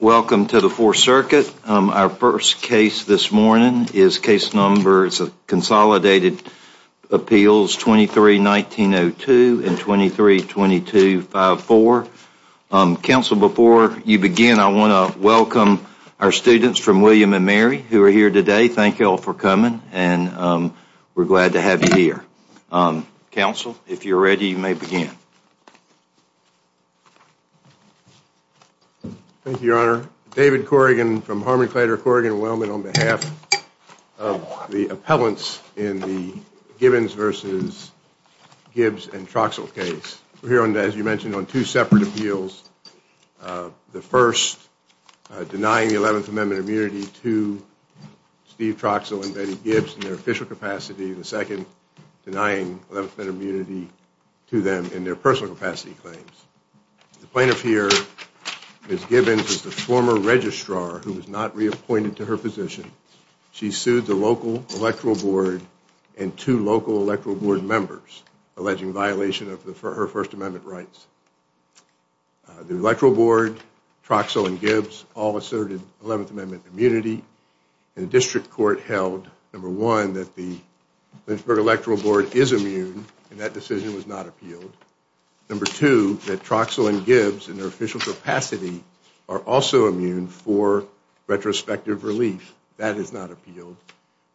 Welcome to the Fourth Circuit. Our first case this morning is case number, it's a consolidated appeals 23-1902 and 23-2254. Counsel, before you begin, I want to welcome our students from William & Mary who are here today. Thank you all for coming and we're glad to have you here. Counsel, if you're ready, you may begin. Thank you, Your Honor. David Corrigan from Harmon Claytor Corrigan & Wellman on behalf of the appellants in the Gibbons v. Gibbs and Troxell case. We're here, as you mentioned, on two separate appeals. The first denying the 11th Amendment immunity to Steve Troxell and Betty Gibbs in their official capacity. The second denying 11th Amendment immunity to them in their personal capacity claims. The plaintiff here, Ms. Gibbons, is the former registrar who was not reappointed to her position. She sued the local Electoral Board and two local Electoral Board members alleging violation of her First Amendment rights. The Electoral Board, Troxell, and Gibbs all asserted 11th Amendment immunity. The district court held, number one, that the Lynchburg Electoral Board is immune and that decision was not appealed. Number two, that Troxell and Gibbs, in their official capacity, are also immune for retrospective relief. That is not appealed,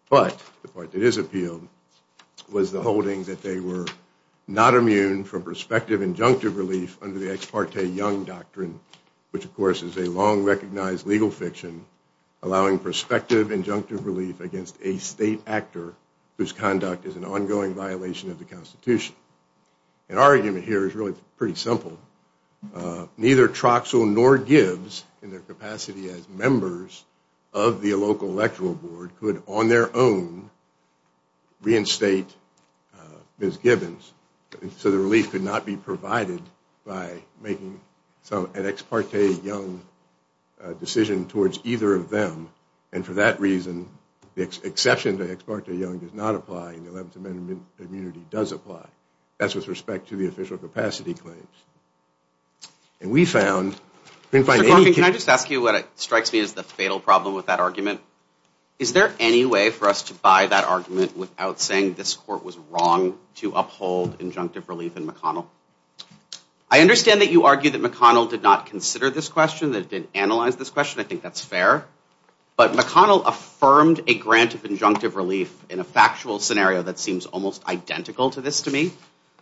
but the part that is appealed was the holding that they were not immune from prospective injunctive relief under the Ex Parte Young Doctrine, which, of course, is a long-recognized legal fiction allowing prospective injunctive relief against a state actor whose conduct is an ongoing violation of the Constitution. And our argument here is really pretty simple. Neither Troxell nor Gibbs, in their capacity as members of the local Electoral Board, could, on their own, reinstate Ms. Gibbons. So the relief could not be provided by making an Ex Parte Young decision towards either of them. And for that reason, the exception to Ex Parte Young does not apply, and the 11th Amendment immunity does apply. That's with respect to the official capacity claims. And we found... Mr. Corfin, can I just ask you what strikes me as the fatal problem with that argument? Is there any way for us to buy that argument without saying this court was wrong to uphold injunctive relief in McConnell? I understand that you argue that McConnell did not consider this question, that it didn't analyze this question. I think that's fair. But McConnell affirmed a grant of injunctive relief in a factual scenario that seems almost identical to this to me.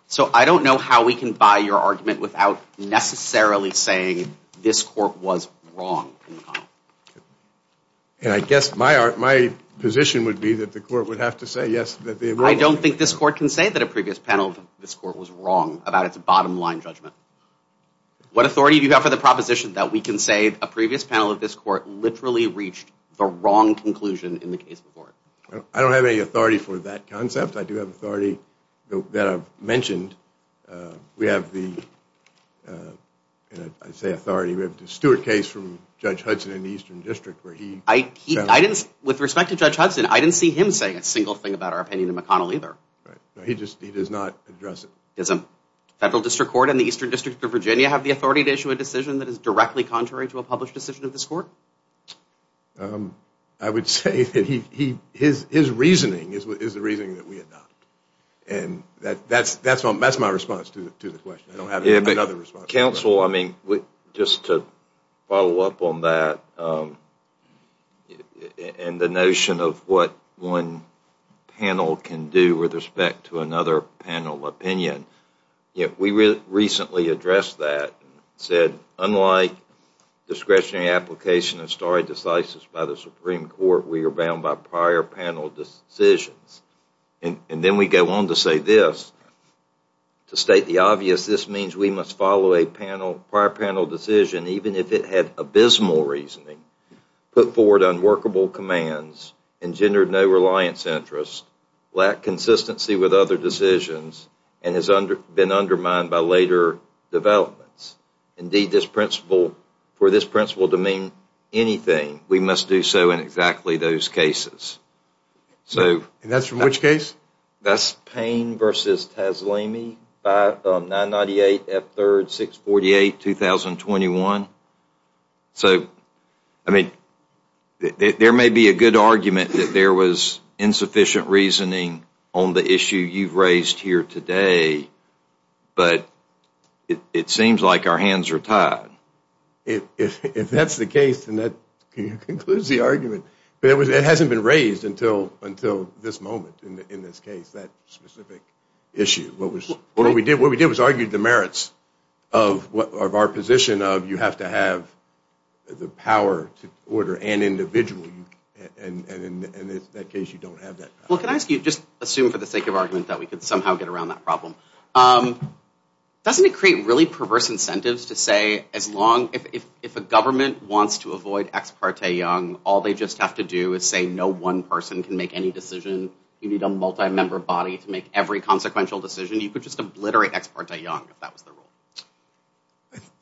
So I don't know how we can buy your argument without necessarily saying this court was wrong in McConnell. And I guess my position would be that the court would have to say, yes, that they were wrong. I don't think this court can say that a previous panel of this court was wrong about its bottom line judgment. What authority do you have for the proposition that we can say a previous panel of this court literally reached the wrong conclusion in the case before it? I don't have any authority for that concept. I do have authority that I've mentioned. We have the, I say authority, we have the Stewart case from Judge Hudson in the Eastern District where he... With respect to Judge Hudson, I didn't see him saying a single thing about our opinion of McConnell either. He does not address it. Does a federal district court in the Eastern District of Virginia have the authority to issue a decision that is directly contrary to a published decision of this court? I would say that his reasoning is the reasoning that we adopted. And that's my response to the question. I don't have another response. Counsel, I mean, just to follow up on that and the notion of what one panel can do with respect to another panel opinion. We recently addressed that and said, unlike discretionary application of stare decisis by the Supreme Court, we are bound by prior panel decisions. And then we go on to say this. To state the obvious, this means we must follow a prior panel decision even if it had abysmal reasoning, put forward unworkable commands, engendered no reliance interest, lacked consistency with other decisions, and has been undermined by later developments. Indeed, for this principle to mean anything, we must do so in exactly those cases. And that's from which case? That's Payne v. Taslemi, 998 F3, 648, 2021. So, I mean, there may be a good argument that there was insufficient reasoning on the issue you've raised here today, but it seems like our hands are tied. If that's the case, then that concludes the argument. But it hasn't been raised until this moment in this case, that specific issue. What we did was argue the merits of our position of you have to have the power to order an individual. And in that case, you don't have that power. Well, can I ask you, just assume for the sake of argument that we could somehow get around that problem. Doesn't it create really perverse incentives to say, if a government wants to avoid ex parte young, all they just have to do is say no one person can make any decision, you need a multi-member body to make every consequential decision, you could just obliterate ex parte young if that was the rule.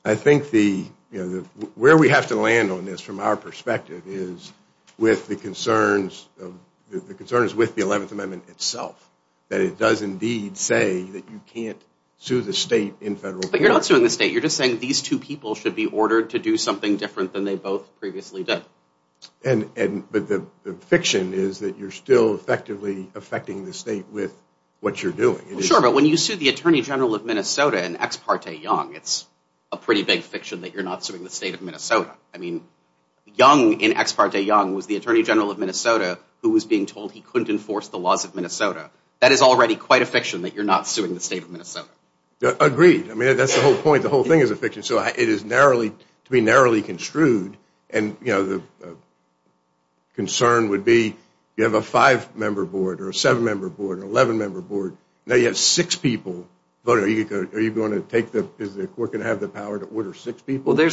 I think where we have to land on this from our perspective is with the concerns with the 11th Amendment itself. That it does indeed say that you can't sue the state in federal court. But you're not suing the state. You're just saying these two people should be ordered to do something different than they both previously did. But the fiction is that you're still effectively affecting the state with what you're doing. Sure, but when you sue the Attorney General of Minnesota in ex parte young, it's a pretty big fiction that you're not suing the state of Minnesota. I mean, young in ex parte young was the Attorney General of Minnesota who was being told he couldn't enforce the laws of Minnesota. That is already quite a fiction that you're not suing the state of Minnesota. Agreed. I mean, that's the whole point. The whole thing is a fiction. So it is to be narrowly construed. And the concern would be you have a five-member board or a seven-member board or an 11-member board. Now you have six people. Are you going to take the, is the court going to have the power to order six people? There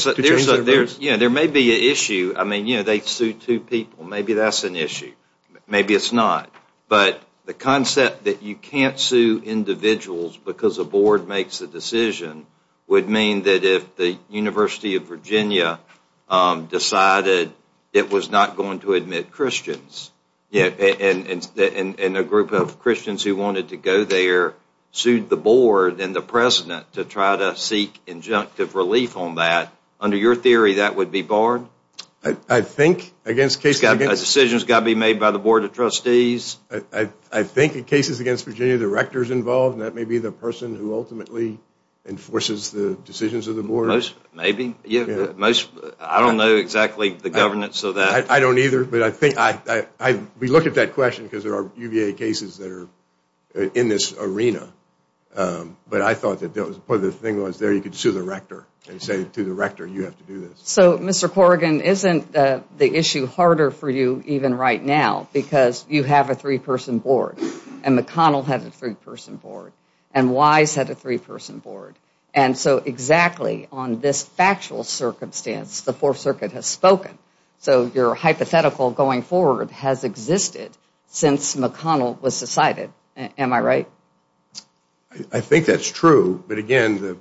may be an issue. I mean, you know, they sue two people. Maybe that's an issue. Maybe it's not. But the concept that you can't sue individuals because a board makes the decision would mean that if the University of Virginia decided it was not going to admit Christians and a group of Christians who wanted to go there sued the board and the president to try to seek injunctive relief on that. Under your theory, that would be barred? I think against cases... A decision has got to be made by the Board of Trustees. I think in cases against Virginia, the rector is involved, and that may be the person who ultimately enforces the decisions of the board. Maybe. I don't know exactly the governance of that. I don't either. But I think, we look at that question because there are UVA cases that are in this arena. But I thought that the thing was there you could sue the rector and say to the rector, you have to do this. So, Mr. Corrigan, isn't the issue harder for you even right now because you have a three-person board, and McConnell had a three-person board, and Wise had a three-person board. And so exactly on this factual circumstance, the Fourth Circuit has spoken. So your hypothetical going forward has existed since McConnell was decided. Am I right? I think that's true. But, again, the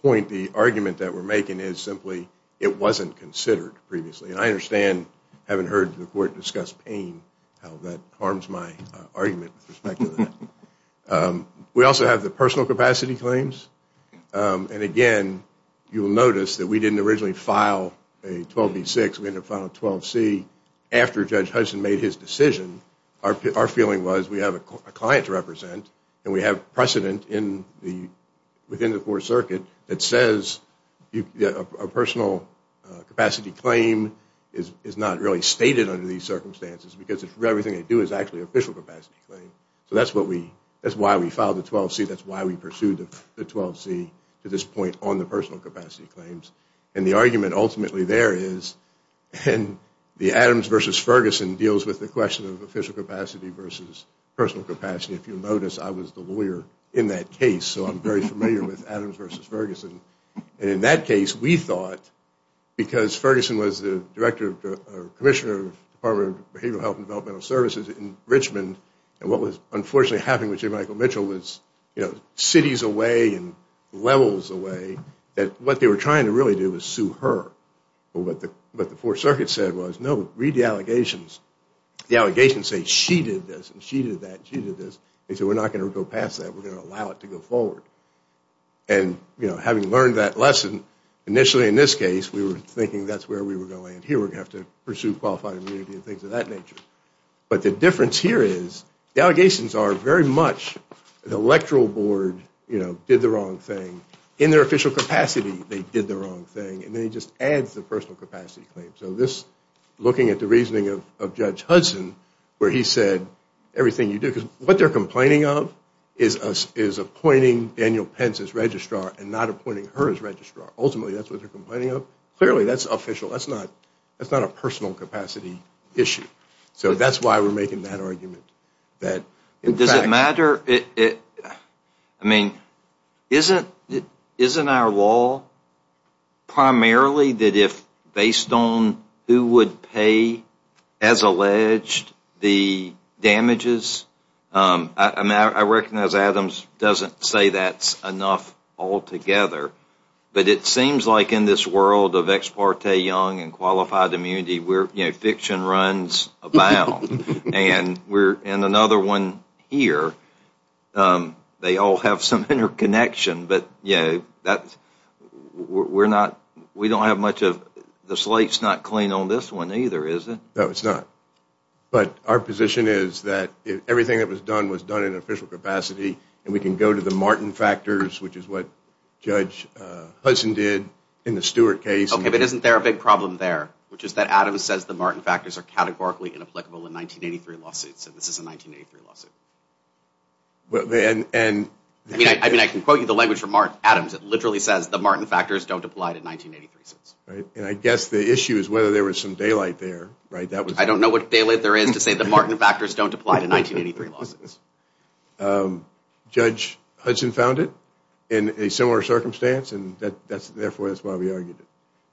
point, the argument that we're making is simply it wasn't considered previously. And I understand, having heard the court discuss pain, how that harms my argument with respect to that. We also have the personal capacity claims. And, again, you will notice that we didn't originally file a 12B6. We ended up filing a 12C after Judge Hudson made his decision. Our feeling was we have a client to represent, and we have precedent within the Fourth Circuit that says a personal capacity claim is not really stated under these circumstances because everything they do is actually an official capacity claim. So that's why we filed the 12C. That's why we pursued the 12C to this point on the personal capacity claims. And the argument ultimately there is, and the Adams versus Ferguson deals with the question of official capacity versus personal capacity. If you notice, I was the lawyer in that case, so I'm very familiar with Adams versus Ferguson. And in that case, we thought, because Ferguson was the Director or Commissioner of the Department of Behavioral Health and Developmental Services in Richmond, and what was unfortunately happening with Jim and Michael Mitchell was, you know, cities away and levels away, that what they were trying to really do was sue her. But what the Fourth Circuit said was, no, read the allegations. The allegations say she did this and she did that and she did this. They said we're not going to go past that. We're going to allow it to go forward. And, you know, having learned that lesson initially in this case, we were thinking that's where we were going. Here we're going to have to pursue qualified immunity and things of that nature. But the difference here is the allegations are very much the electoral board, you know, did the wrong thing. In their official capacity, they did the wrong thing. And then he just adds the personal capacity claim. So this, looking at the reasoning of Judge Hudson, where he said everything you do, because what they're complaining of is appointing Daniel Pence as registrar and not appointing her as registrar. Ultimately, that's what they're complaining of. Clearly, that's official. That's not a personal capacity issue. So that's why we're making that argument. Does it matter? I mean, isn't our law primarily that if based on who would pay, as alleged, the damages? I recognize Adams doesn't say that's enough altogether. But it seems like in this world of ex parte young and qualified immunity, you know, fiction runs abound. And another one here, they all have some interconnection. But, you know, we don't have much of the slate's not clean on this one either, is it? No, it's not. But our position is that everything that was done was done in official capacity. And we can go to the Martin factors, which is what Judge Hudson did in the Stewart case. Okay, but isn't there a big problem there, which is that Adams says the Martin factors are categorically inapplicable in 1983 lawsuits, and this is a 1983 lawsuit? I mean, I can quote you the language from Adams. It literally says the Martin factors don't apply to 1983 suits. And I guess the issue is whether there was some daylight there. I don't know what daylight there is to say the Martin factors don't apply to 1983 lawsuits. Judge Hudson found it in a similar circumstance, and therefore that's why we argued it.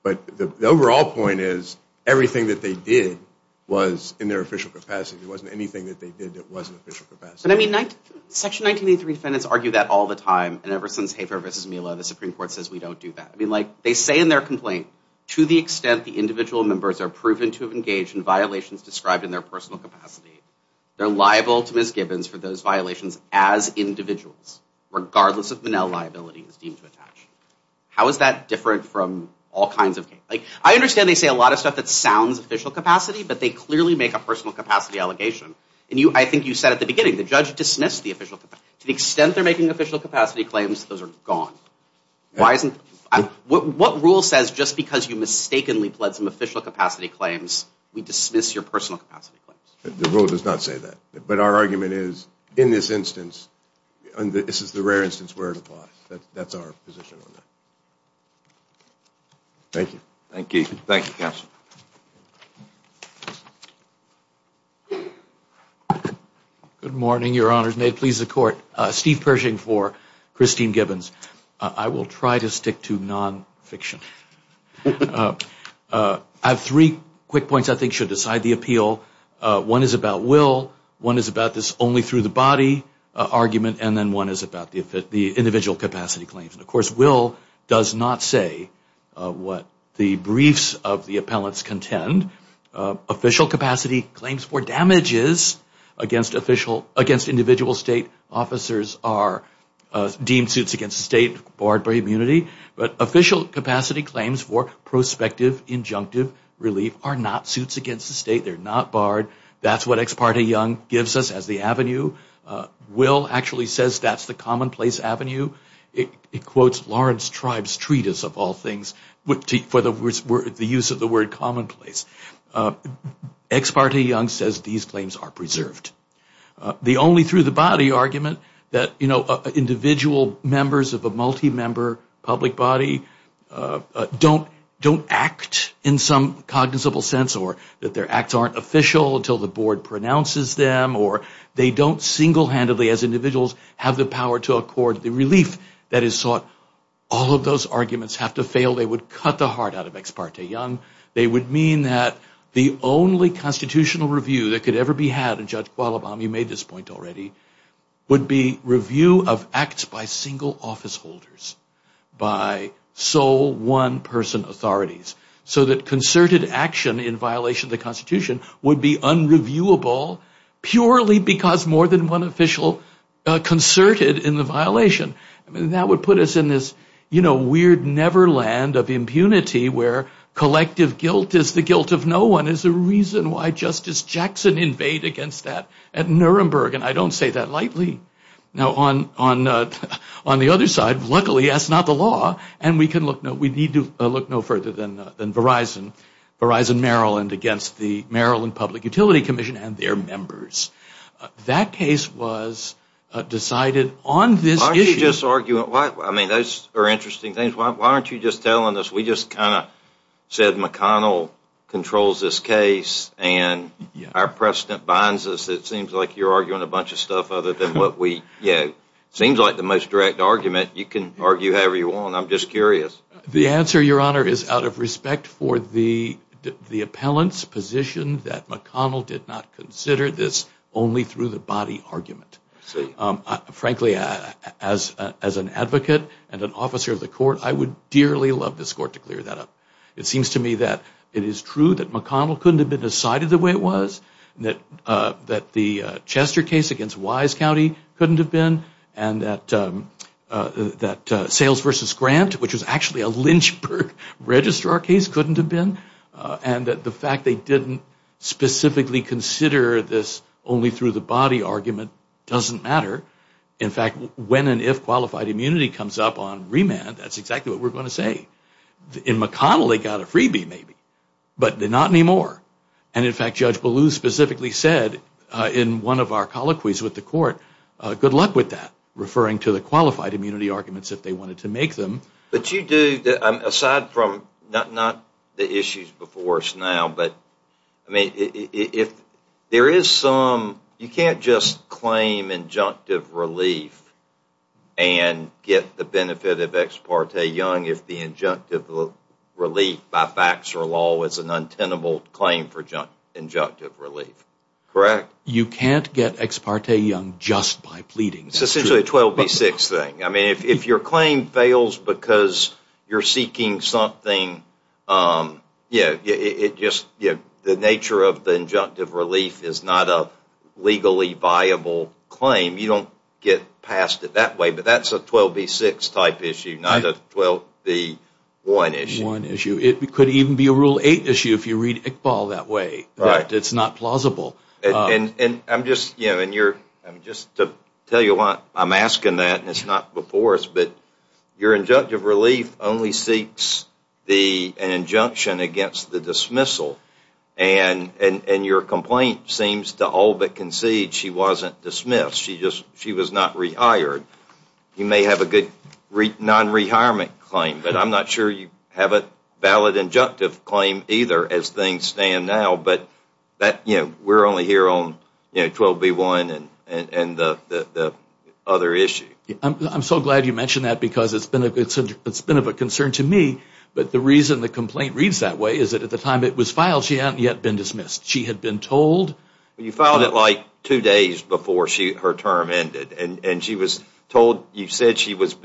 But the overall point is everything that they did was in their official capacity. It wasn't anything that they did that wasn't official capacity. But, I mean, Section 1983 defendants argue that all the time. And ever since Hafer v. Mila, the Supreme Court says we don't do that. I mean, like, they say in their complaint, to the extent the individual members are proven to have engaged in violations described in their personal capacity, they're liable to misgivings for those violations as individuals, regardless of Manel liability is deemed to attach. How is that different from all kinds of cases? Like, I understand they say a lot of stuff that sounds official capacity, but they clearly make a personal capacity allegation. And I think you said at the beginning, the judge dismissed the official capacity. To the extent they're making official capacity claims, those are gone. What rule says just because you mistakenly pled some official capacity claims, we dismiss your personal capacity claims? The rule does not say that. But our argument is, in this instance, this is the rare instance where it applies. That's our position on that. Thank you. Thank you. Thank you, Counsel. Good morning, Your Honors. May it please the Court. Steve Pershing for Christine Gibbons. I will try to stick to nonfiction. I have three quick points I think should decide the appeal. One is about will. One is about this only through the body argument. And then one is about the individual capacity claims. And, of course, will does not say what the briefs of the appellants contend. Official capacity claims for damages against individual state officers are deemed suits against the state, barred by immunity. But official capacity claims for prospective injunctive relief are not suits against the state. They're not barred. That's what Ex parte Young gives us as the avenue. Will actually says that's the commonplace avenue. It quotes Lawrence Tribe's treatise, of all things, for the use of the word commonplace. Ex parte Young says these claims are preserved. The only through the body argument that individual members of a multi-member public body don't act in some cognizable sense or that their acts aren't official until the board pronounces them or they don't single-handedly as individuals have the power to accord the relief that is sought. All of those arguments have to fail. They would cut the heart out of Ex parte Young. They would mean that the only constitutional review that could ever be had, and Judge Qualabam, you made this point already, would be review of acts by single office holders, by sole one-person authorities, so that concerted action in violation of the Constitution would be unreviewable purely because more than one official concerted in the violation. That would put us in this weird neverland of impunity where collective guilt is the guilt of no one is the reason why Justice Jackson invaded against that at Nuremberg, and I don't say that lightly. Now on the other side, luckily that's not the law, and we need to look no further than Verizon, Verizon Maryland, against the Maryland Public Utility Commission and their members. That case was decided on this issue. Why aren't you just arguing, I mean those are interesting things, why aren't you just telling us we just kind of said McConnell controls this case and our precedent binds us. It seems like you're arguing a bunch of stuff other than what we, yeah, it seems like the most direct argument. You can argue however you want. I'm just curious. The answer, Your Honor, is out of respect for the appellant's position that McConnell did not consider this only through the body argument. Frankly, as an advocate and an officer of the court, I would dearly love this court to clear that up. It seems to me that it is true that McConnell couldn't have been decided the way it was, that the Chester case against Wise County couldn't have been, and that Sales v. Grant, which was actually a Lynchburg registrar case, couldn't have been, and that the fact they didn't specifically consider this only through the body argument doesn't matter. In fact, when and if qualified immunity comes up on remand, that's exactly what we're going to say. In McConnell, they got a freebie maybe, but not anymore. In fact, Judge Ballou specifically said in one of our colloquies with the court, good luck with that, referring to the qualified immunity arguments if they wanted to make them. Aside from not the issues before us now, you can't just claim injunctive relief and get the benefit of Ex parte Young if the injunctive relief by facts or law is an untenable claim for injunctive relief. Correct? You can't get Ex parte Young just by pleading. It's essentially a 12 v. 6 thing. If your claim fails because you're seeking something, the nature of the injunctive relief is not a legally viable claim. You don't get passed it that way, but that's a 12 v. 6 type issue, not a 12 v. 1 issue. It could even be a Rule 8 issue if you read Iqbal that way. It's not plausible. Just to tell you why I'm asking that, and it's not before us, but your injunctive relief only seeks an injunction against the dismissal, and your complaint seems to all but concede she wasn't dismissed. She was not rehired. You may have a good non-rehirement claim, but I'm not sure you have a valid injunctive claim either as things stand now. We're only here on 12 v. 1 and the other issue. I'm so glad you mentioned that because it's been of a concern to me, but the reason the complaint reads that way is that at the time it was filed, she hadn't yet been dismissed. She had been told. You filed it like two days before her term ended, and you said she was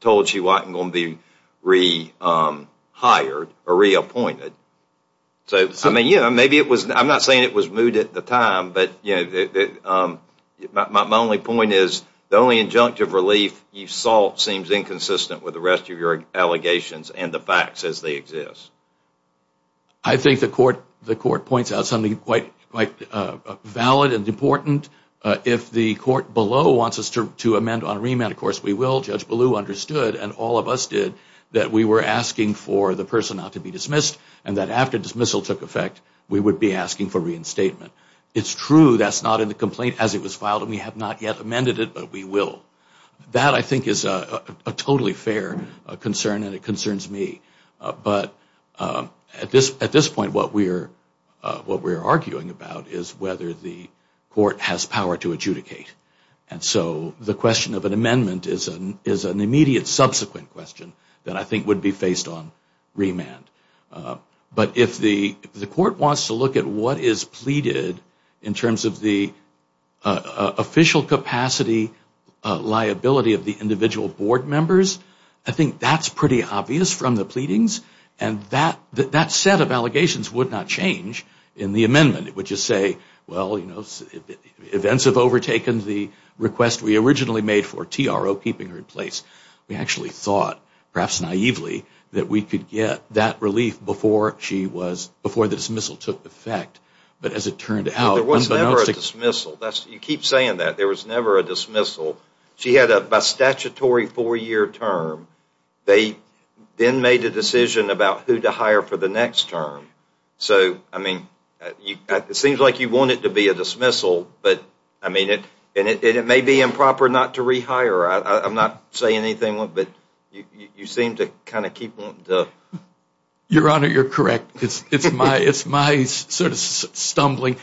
told she wasn't going to be rehired or reappointed. I'm not saying it was moot at the time, but my only point is the only injunctive relief you sought seems inconsistent with the rest of your allegations and the facts as they exist. I think the Court points out something quite valid and important. If the Court below wants us to amend on remand, of course we will. Judge Ballou understood, and all of us did, that we were asking for the person not to be dismissed and that after dismissal took effect we would be asking for reinstatement. It's true that's not in the complaint as it was filed, and we have not yet amended it, but we will. That, I think, is a totally fair concern, and it concerns me. But at this point what we're arguing about is whether the Court has power to adjudicate. And so the question of an amendment is an immediate subsequent question that I think would be faced on remand. But if the Court wants to look at what is pleaded in terms of the official capacity liability of the individual Board members, I think that's pretty obvious from the pleadings, events have overtaken the request we originally made for TRO keeping her in place. We actually thought, perhaps naively, that we could get that relief before the dismissal took effect. There was never a dismissal. You keep saying that. There was never a dismissal. She had a statutory four-year term. They then made a decision about who to hire for the next term. So, I mean, it seems like you want it to be a dismissal, and it may be improper not to rehire. I'm not saying anything, but you seem to kind of keep wanting to... Your Honor, you're correct. It's my sort of stumbling.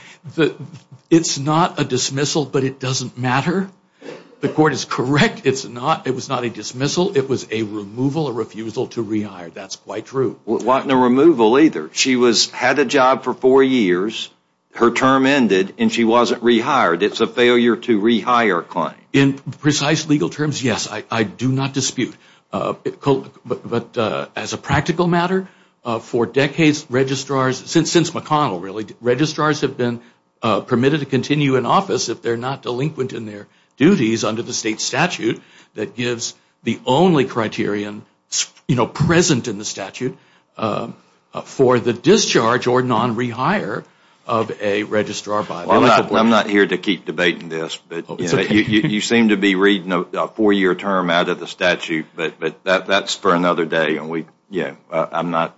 It's not a dismissal, but it doesn't matter. The Court is correct. It was not a dismissal. It was a removal, a refusal to rehire. That's quite true. No removal either. She had a job for four years. Her term ended, and she wasn't rehired. It's a failure to rehire claim. In precise legal terms, yes, I do not dispute. But as a practical matter, for decades, registrars, since McConnell really, registrars have been permitted to continue in office if they're not delinquent in their duties under the state statute that gives the only criterion, you know, present in the statute for the discharge or non-rehire of a registrar. I'm not here to keep debating this, but you seem to be reading a four-year term out of the statute, but that's for another day. I'm not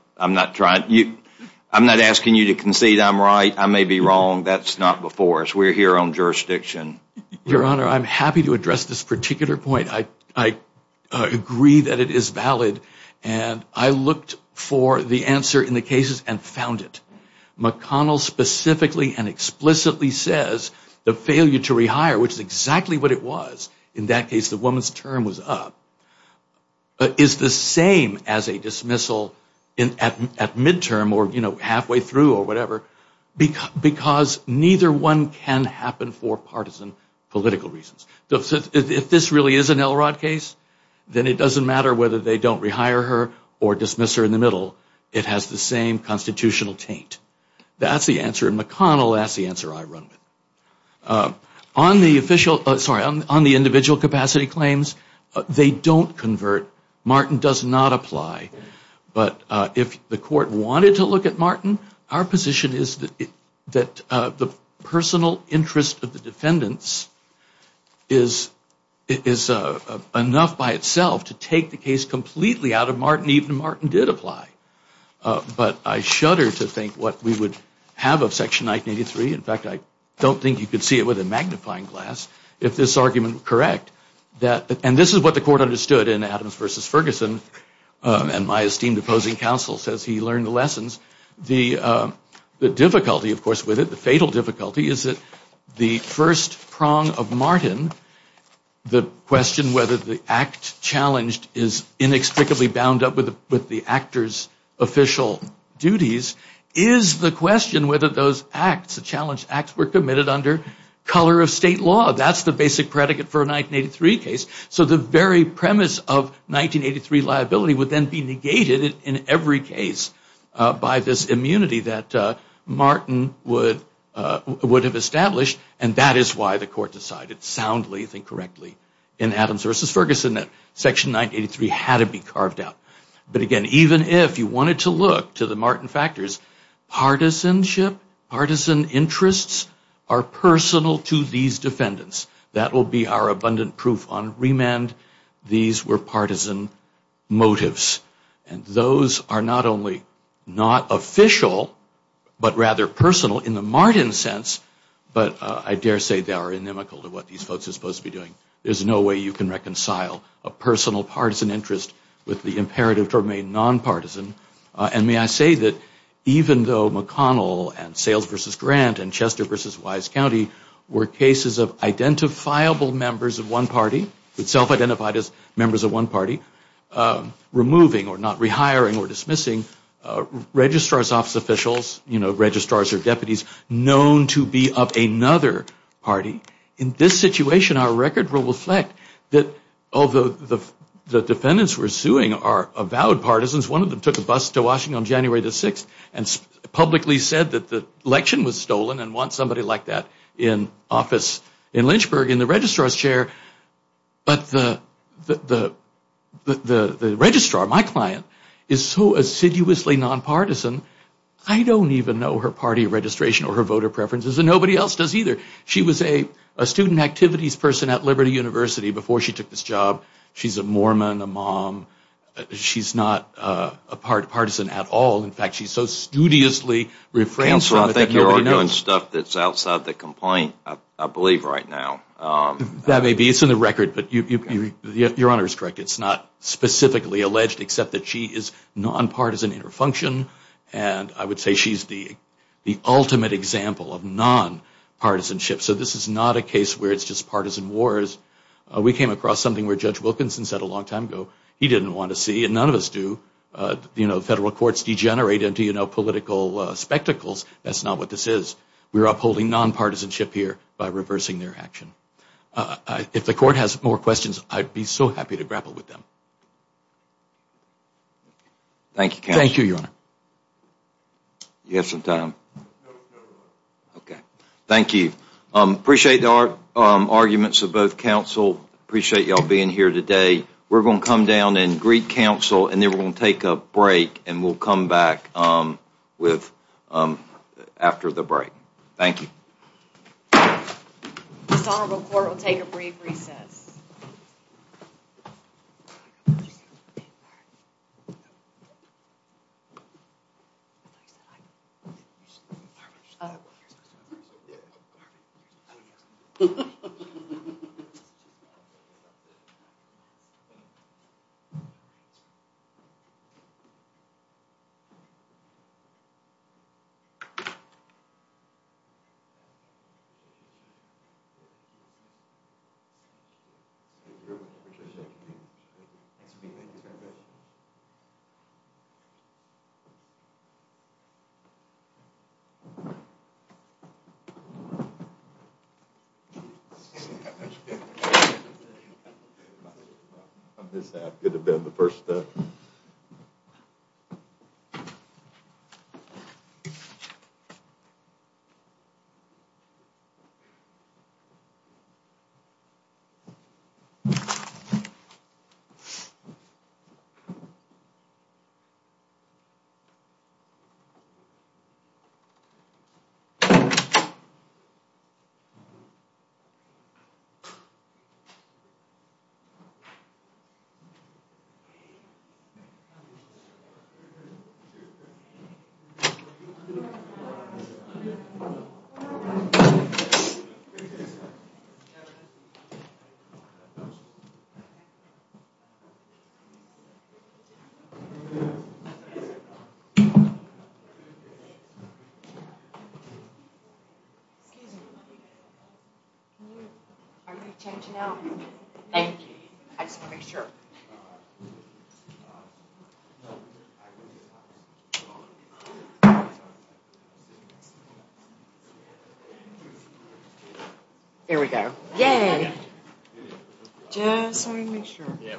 asking you to concede I'm right. I may be wrong. That's not before us. We're here on jurisdiction. Your Honor, I'm happy to address this particular point. I agree that it is valid, and I looked for the answer in the cases and found it. McConnell specifically and explicitly says the failure to rehire, which is exactly what it was, in that case the woman's term was up, is the same as a dismissal at midterm or, you know, halfway through or whatever, because neither one can happen for partisan political reasons. If this really is an Elrod case, then it doesn't matter whether they don't rehire her or dismiss her in the middle. It has the same constitutional taint. That's the answer. McConnell, that's the answer I run with. On the individual capacity claims, they don't convert. Martin does not apply. But if the court wanted to look at Martin, our position is that the personal interest of the defendants is enough by itself to take the case completely out of Martin, even if Martin did apply. But I shudder to think what we would have of Section 1983. In fact, I don't think you could see it with a magnifying glass if this argument were correct. And this is what the court understood in Adams v. Ferguson, and my esteemed opposing counsel says he learned the lessons. The difficulty, of course, with it, the fatal difficulty, is that the first prong of Martin, the question whether the act challenged is inextricably bound up with the actor's official duties, is the question whether those acts, the challenged acts, were committed under color of state law. That's the basic predicate for a 1983 case. So the very premise of 1983 liability would then be negated in every case by this immunity that Martin would have established, and that is why the court decided soundly, if I think correctly, in Adams v. Ferguson that Section 1983 had to be carved out. But again, even if you wanted to look to the Martin factors, partisanship, partisan interests, are personal to these defendants. That will be our abundant proof on remand. These were partisan motives, and those are not only not official, but rather personal in the Martin sense, but I dare say they are inimical to what these folks are supposed to be doing. There's no way you can reconcile a personal partisan interest with the imperative to remain nonpartisan. And may I say that even though McConnell and Sales v. Grant and Chester v. Wise County were cases of identifiable members of one party, self-identified as members of one party, removing or not rehiring or dismissing registrar's office officials, you know, registrars or deputies, known to be of another party, in this situation our record will reflect that although the defendants we're suing are avowed partisans, one of them took a bus to Washington on January the 6th and publicly said that the election was stolen and wants somebody like that in office in Lynchburg in the registrar's chair. But the registrar, my client, is so assiduously nonpartisan, I don't even know her party registration or her voter preferences, and nobody else does either. She was a student activities person at Liberty University before she took this job. She's a Mormon, a mom. She's not partisan at all. In fact, she so studiously refrains from it that nobody knows. Counselor, I think you're arguing stuff that's outside the complaint, I believe, right now. That may be. It's in the record, but your Honor is correct. It's not specifically alleged except that she is nonpartisan in her function, and I would say she's the ultimate example of nonpartisanship. So this is not a case where it's just partisan wars. We came across something where Judge Wilkinson said a long time ago he didn't want to see, and none of us do. Federal courts degenerate into political spectacles. That's not what this is. We're upholding nonpartisanship here by reversing their action. If the court has more questions, I'd be so happy to grapple with them. Thank you, Counselor. Thank you, Your Honor. Do you have some time? Okay. Thank you. Appreciate the arguments of both counsel. Appreciate you all being here today. We're going to come down and greet counsel, and then we're going to take a break, and we'll come back after the break. Thank you. This honorable court will take a brief recess. Thank you. Thank you. Appreciate it. Thank you. Thanks for being here. Thank you very much. Thank you. Thank you. Thank you. Thank you. Thank you. Are we changing out? I just want to make sure. There we go. Yay. Just wanted to make sure. Yeah, we appreciate it.